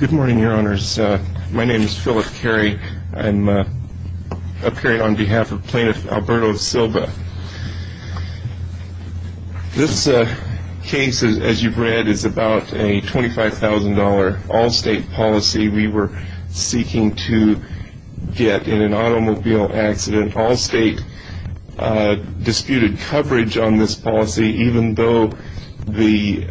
Good morning, Your Honors. My name is Philip Carey. I'm appearing on behalf of Plaintiff Alberto Silva. This case, as you've read, is about a $25,000 Allstate policy we were seeking to get in an automobile accident. Allstate disputed coverage on this policy even though the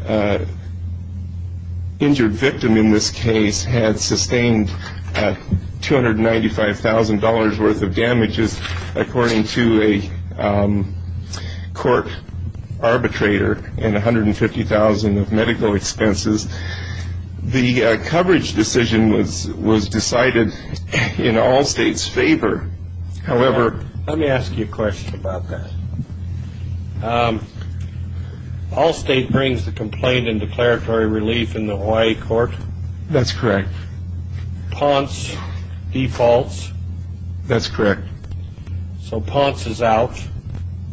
injured victim in this case had sustained $295,000 worth of damages according to a court arbitrator and $150,000 of medical expenses. The coverage decision was decided in Allstate's favor. Let me ask you a question about that. Allstate brings the complaint in declaratory relief in the Hawaii court? That's correct. Ponce defaults? That's correct. So Ponce is out?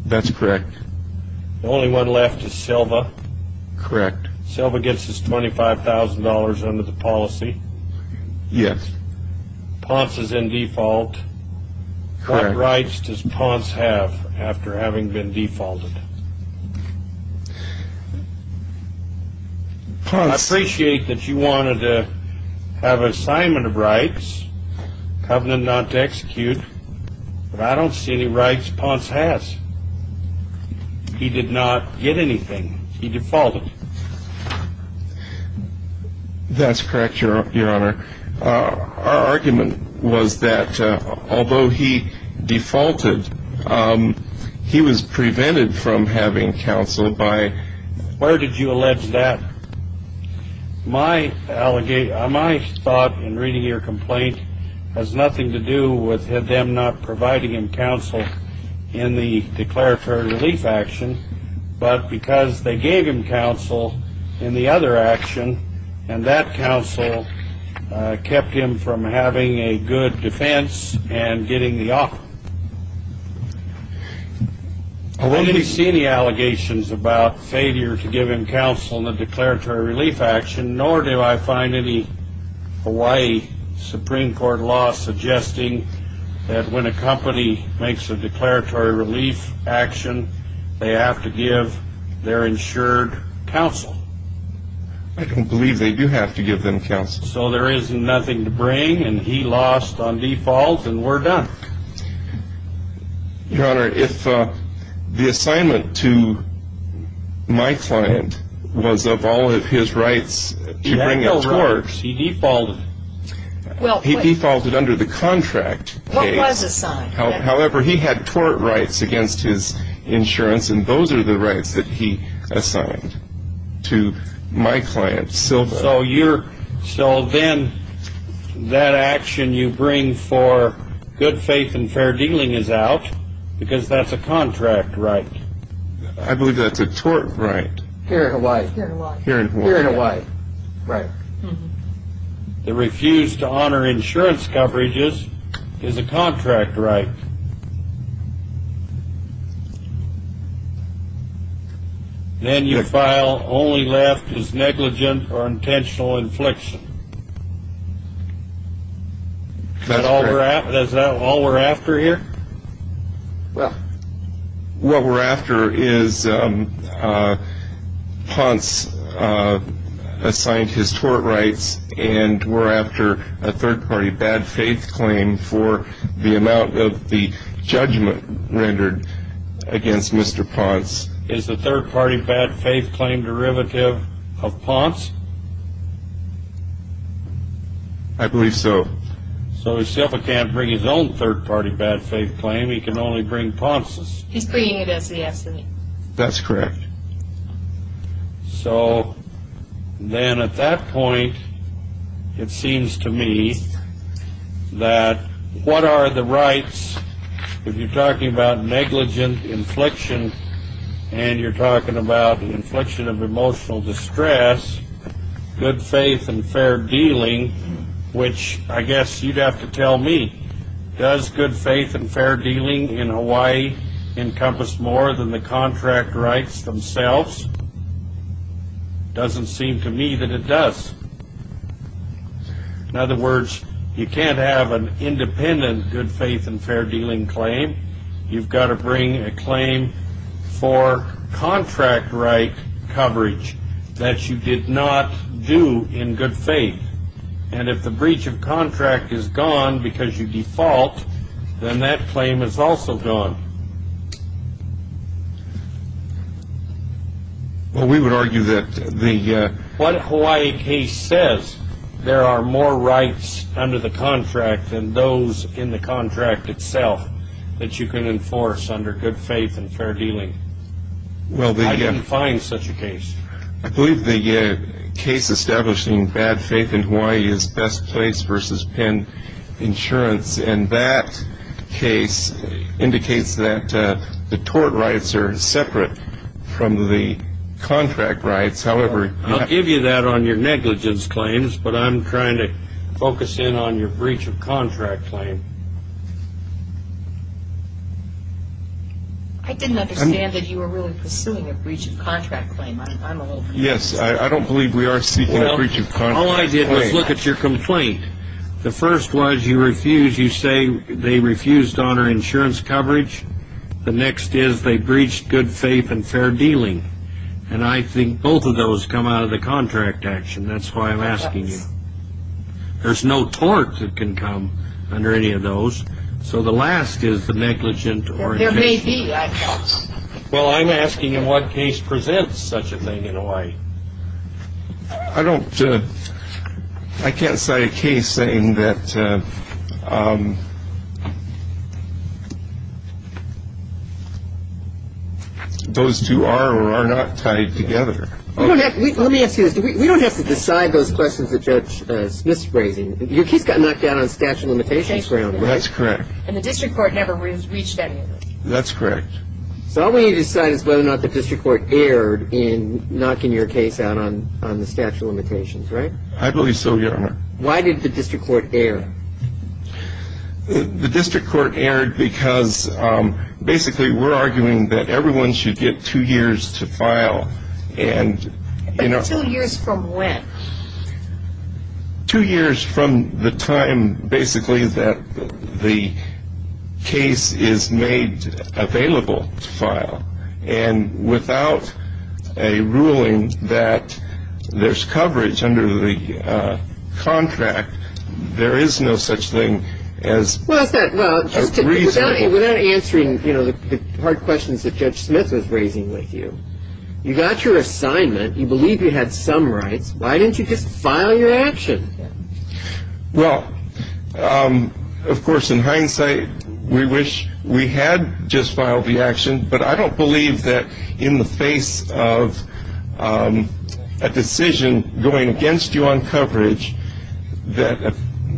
That's correct. The only one left is Silva? Correct. Silva gets his $25,000 under the policy? Yes. Ponce is in default? Correct. What rights does Ponce have after having been defaulted? I appreciate that you wanted to have an assignment of rights, covenant not to execute, but I don't see any rights Ponce has. He did not get anything. He defaulted. That's correct, Your Honor. Our argument was that although he defaulted, he was prevented from having counsel by... Where did you allege that? My thought in reading your complaint has nothing to do with them not providing him counsel in the declaratory relief action, but because they gave him counsel in the other action, and that counsel kept him from having a good defense and getting the offer. I didn't see any allegations about failure to give him counsel in the declaratory relief action, nor do I find any Hawaii Supreme Court law suggesting that when a company makes a declaratory relief action, they have to give their insured counsel. I don't believe they do have to give them counsel. So there is nothing to bring, and he lost on default, and we're done. Your Honor, if the assignment to my client was of all of his rights to bring a tort... He had no rights. He defaulted. He defaulted under the contract case. What was assigned? However, he had tort rights against his insurance, and those are the rights that he assigned to my client. So then that action you bring for good faith and fair dealing is out, because that's a contract right. I believe that's a tort right. Here in Hawaii. Here in Hawaii. Here in Hawaii. Right. The refuse to honor insurance coverages is a contract right. Then you file only left as negligent or intentional infliction. Is that all we're after here? Well, what we're after is Ponce assigned his tort rights, and we're after a third-party bad faith claim for the amount of the judgment rendered against Mr. Ponce. Is the third-party bad faith claim derivative of Ponce? I believe so. So he still can't bring his own third-party bad faith claim. He can only bring Ponce's. He's bringing it as he has to. That's correct. So then at that point, it seems to me that what are the rights, if you're talking about negligent infliction and you're talking about infliction of emotional distress, good faith and fair dealing, which I guess you'd have to tell me, does good faith and fair dealing in Hawaii encompass more than the contract rights themselves? Doesn't seem to me that it does. In other words, you can't have an independent good faith and fair dealing claim. You've got to bring a claim for contract right coverage that you did not do in good faith. And if the breach of contract is gone because you default, then that claim is also gone. Well, we would argue that the… What Hawaii case says, there are more rights under the contract than those in the contract itself that you can enforce under good faith and fair dealing. I didn't find such a case. I believe the case establishing bad faith in Hawaii is Best Place v. Penn Insurance, and that case indicates that the tort rights are separate from the contract rights. However… I'll give you that on your negligence claims, but I'm trying to focus in on your breach of contract claim. I didn't understand that you were really pursuing a breach of contract claim. I'm a little confused. Yes, I don't believe we are seeking a breach of contract claim. All I did was look at your complaint. The first was you say they refused to honor insurance coverage. The next is they breached good faith and fair dealing. And I think both of those come out of the contract action. That's why I'm asking you. There's no tort that can come under any of those. So the last is the negligent or… There may be like that. Well, I'm asking in what case presents such a thing in Hawaii. I don't… I can't cite a case saying that those two are or are not tied together. Let me ask you this. We don't have to decide those questions that Judge Smith's raising. Your case got knocked down on statute of limitations grounds, right? That's correct. And the district court never reached any of those. That's correct. So all we need to decide is whether or not the district court erred in knocking your case out on the statute of limitations, right? I believe so, Your Honor. Why did the district court erred? The district court erred because basically we're arguing that everyone should get two years to file. And, you know… Two years from when? Two years from the time basically that the case is made available to file. And without a ruling that there's coverage under the contract, there is no such thing as a reasonable… Well, without answering, you know, the hard questions that Judge Smith was raising with you, you got your assignment, you believe you had some rights. Why didn't you just file your action? Well, of course, in hindsight, we wish we had just filed the action, but I don't believe that in the face of a decision going against you on coverage that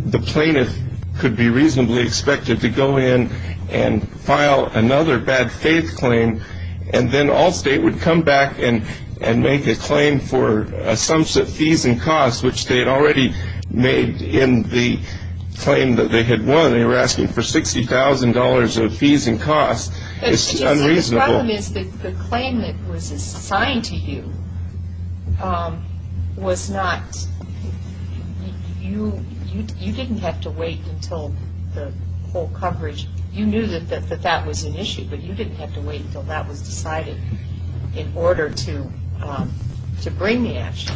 the plaintiff could be reasonably expected to go in and file another bad faith claim and then Allstate would come back and make a claim for a sum of fees and costs, which they had already made in the claim that they had won. They were asking for $60,000 of fees and costs. It's unreasonable. The problem is that the claim that was assigned to you was not… You didn't have to wait until the full coverage. You knew that that was an issue, but you didn't have to wait until that was decided in order to bring the action.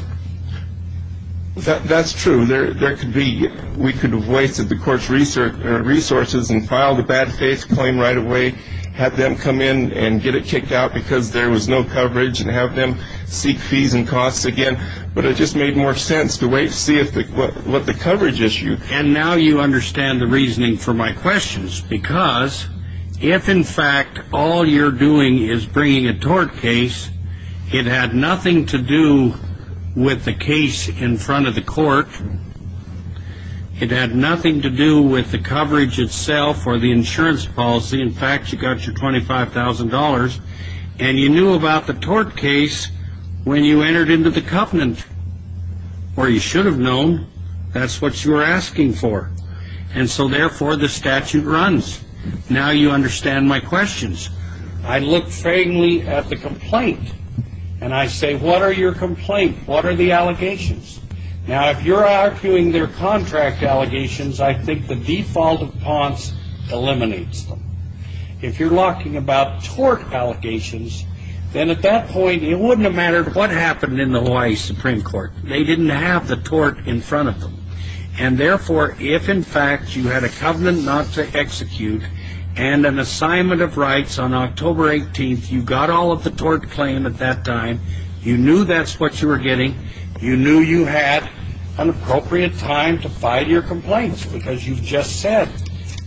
That's true. We could have wasted the court's resources and filed a bad faith claim right away, had them come in and get it kicked out because there was no coverage and have them seek fees and costs again. But it just made more sense to wait and see what the coverage issue… And now you understand the reasoning for my questions because if, in fact, all you're doing is bringing a tort case, it had nothing to do with the case in front of the court. It had nothing to do with the coverage itself or the insurance policy. In fact, you got your $25,000, and you knew about the tort case when you entered into the covenant, or you should have known. That's what you were asking for. And so, therefore, the statute runs. Now you understand my questions. I look frankly at the complaint, and I say, what are your complaint? What are the allegations? Now, if you're arguing they're contract allegations, I think the default of Ponce eliminates them. If you're talking about tort allegations, then at that point it wouldn't have mattered what happened in the Hawaii Supreme Court. They didn't have the tort in front of them. And, therefore, if, in fact, you had a covenant not to execute and an assignment of rights on October 18th, you got all of the tort claim at that time, you knew that's what you were getting, you knew you had an appropriate time to file your complaints because you just said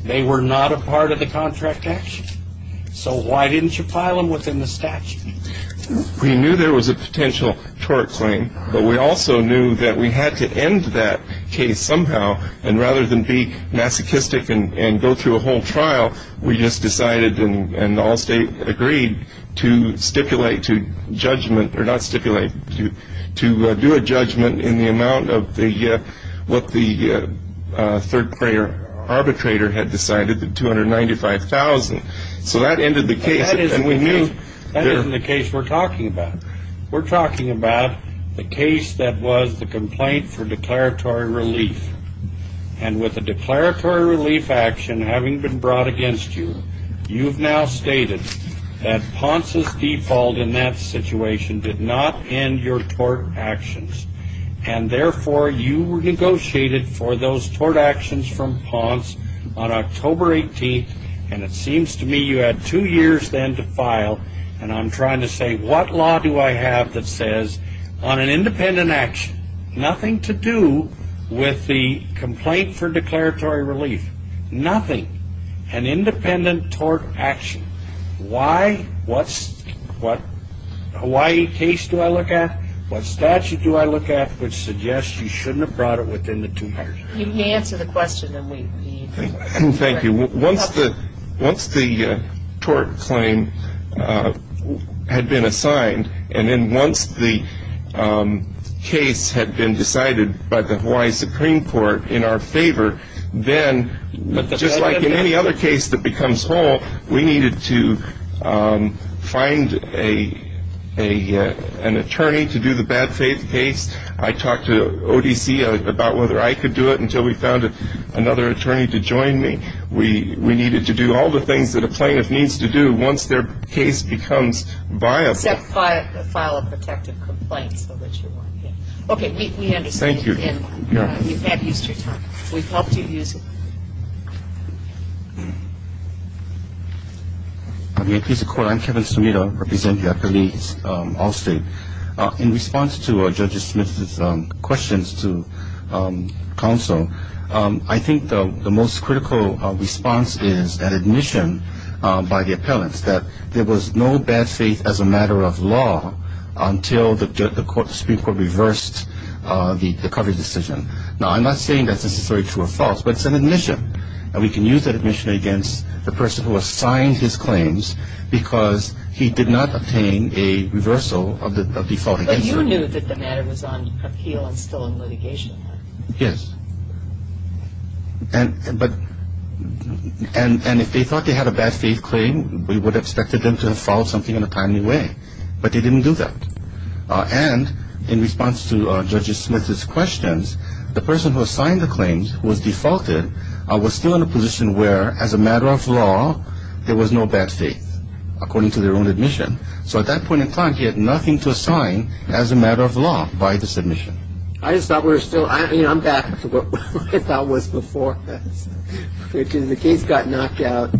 they were not a part of the contract action. So why didn't you file them within the statute? We knew there was a potential tort claim, but we also knew that we had to end that case somehow. And rather than be masochistic and go through a whole trial, we just decided and all state agreed to stipulate to judgment or not stipulate, to do a judgment in the amount of what the third-prayer arbitrator had decided, the $295,000. So that ended the case. That isn't the case we're talking about. We're talking about the case that was the complaint for declaratory relief. And with a declaratory relief action having been brought against you, you've now stated that Ponce's default in that situation did not end your tort actions. And, therefore, you negotiated for those tort actions from Ponce on October 18th, and it seems to me you had two years then to file. And I'm trying to say what law do I have that says on an independent action, nothing to do with the complaint for declaratory relief, nothing. An independent tort action. Why? What Hawaii case do I look at? What statute do I look at which suggests you shouldn't have brought it within the two years? You can answer the question and we can answer it. Thank you. Once the tort claim had been assigned and then once the case had been decided by the Hawaii Supreme Court in our favor, then just like in any other case that becomes whole, we needed to find an attorney to do the bad faith case. I talked to ODC about whether I could do it until we found another attorney to join me. We needed to do all the things that a plaintiff needs to do once their case becomes viable. Except file a protective complaint so that you're more careful. Okay. We understand. Thank you. You've had at least your time. We've helped you use it. I'm a piece of court. I'm Kevin Sumida. I represent the attorneys at Allstate. In response to Judge Smith's questions to counsel, I think the most critical response is an admission by the appellants that there was no bad faith as a matter of law until the Supreme Court reversed the coverage decision. Now, I'm not saying that's necessarily true or false, but it's an admission. And we can use that admission against the person who assigned his claims because he did not obtain a reversal of the default. But you knew that the matter was on appeal and still in litigation. Yes. And if they thought they had a bad faith claim, we would have expected them to have filed something in a timely way. But they didn't do that. And in response to Judge Smith's questions, the person who assigned the claims, who was defaulted, was still in a position where, as a matter of law, there was no bad faith, according to their own admission. So at that point in time, he had nothing to assign as a matter of law by this admission. I just thought we were still – I mean, I'm back to what I thought was before this, which is the case got knocked out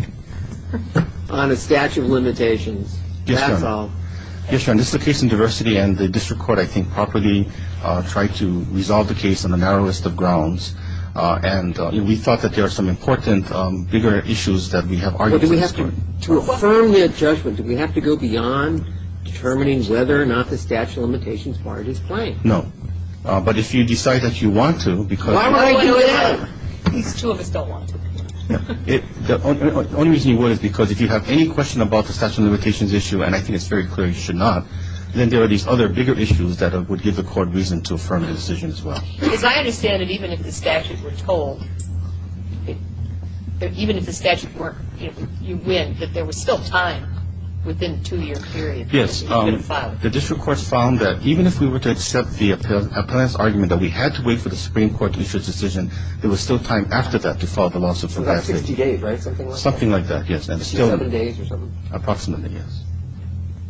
on a statute of limitations. That's all. Yes, Your Honor. This is a case in diversity, and the district court, I think, properly tried to resolve the case on a narrow list of grounds. And we thought that there are some important bigger issues that we have argued at this point. To affirm the judgment, do we have to go beyond determining whether or not the statute of limitations part is plain? No. But if you decide that you want to, because – Why would I do that? These two of us don't want to. The only reason you would is because if you have any question about the statute of limitations issue, and I think it's very clear you should not, then there are these other bigger issues that would give the court reason to affirm the decision as well. Because I understand that even if the statute were told – even if the statute were – you win, that there was still time within a two-year period for you to file it. Yes. The district courts found that even if we were to accept the appellant's argument that we had to wait for the Supreme Court to issue a decision, there was still time after that to file the lawsuit. About 60 days, right? Something like that. Something like that, yes. 27 days or something. Approximately, yes.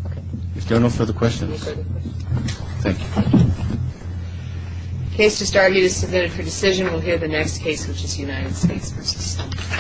Okay. If there are no further questions. No further questions. Thank you. The case just argued is submitted for decision. We'll hear the next case, which is United States v. State.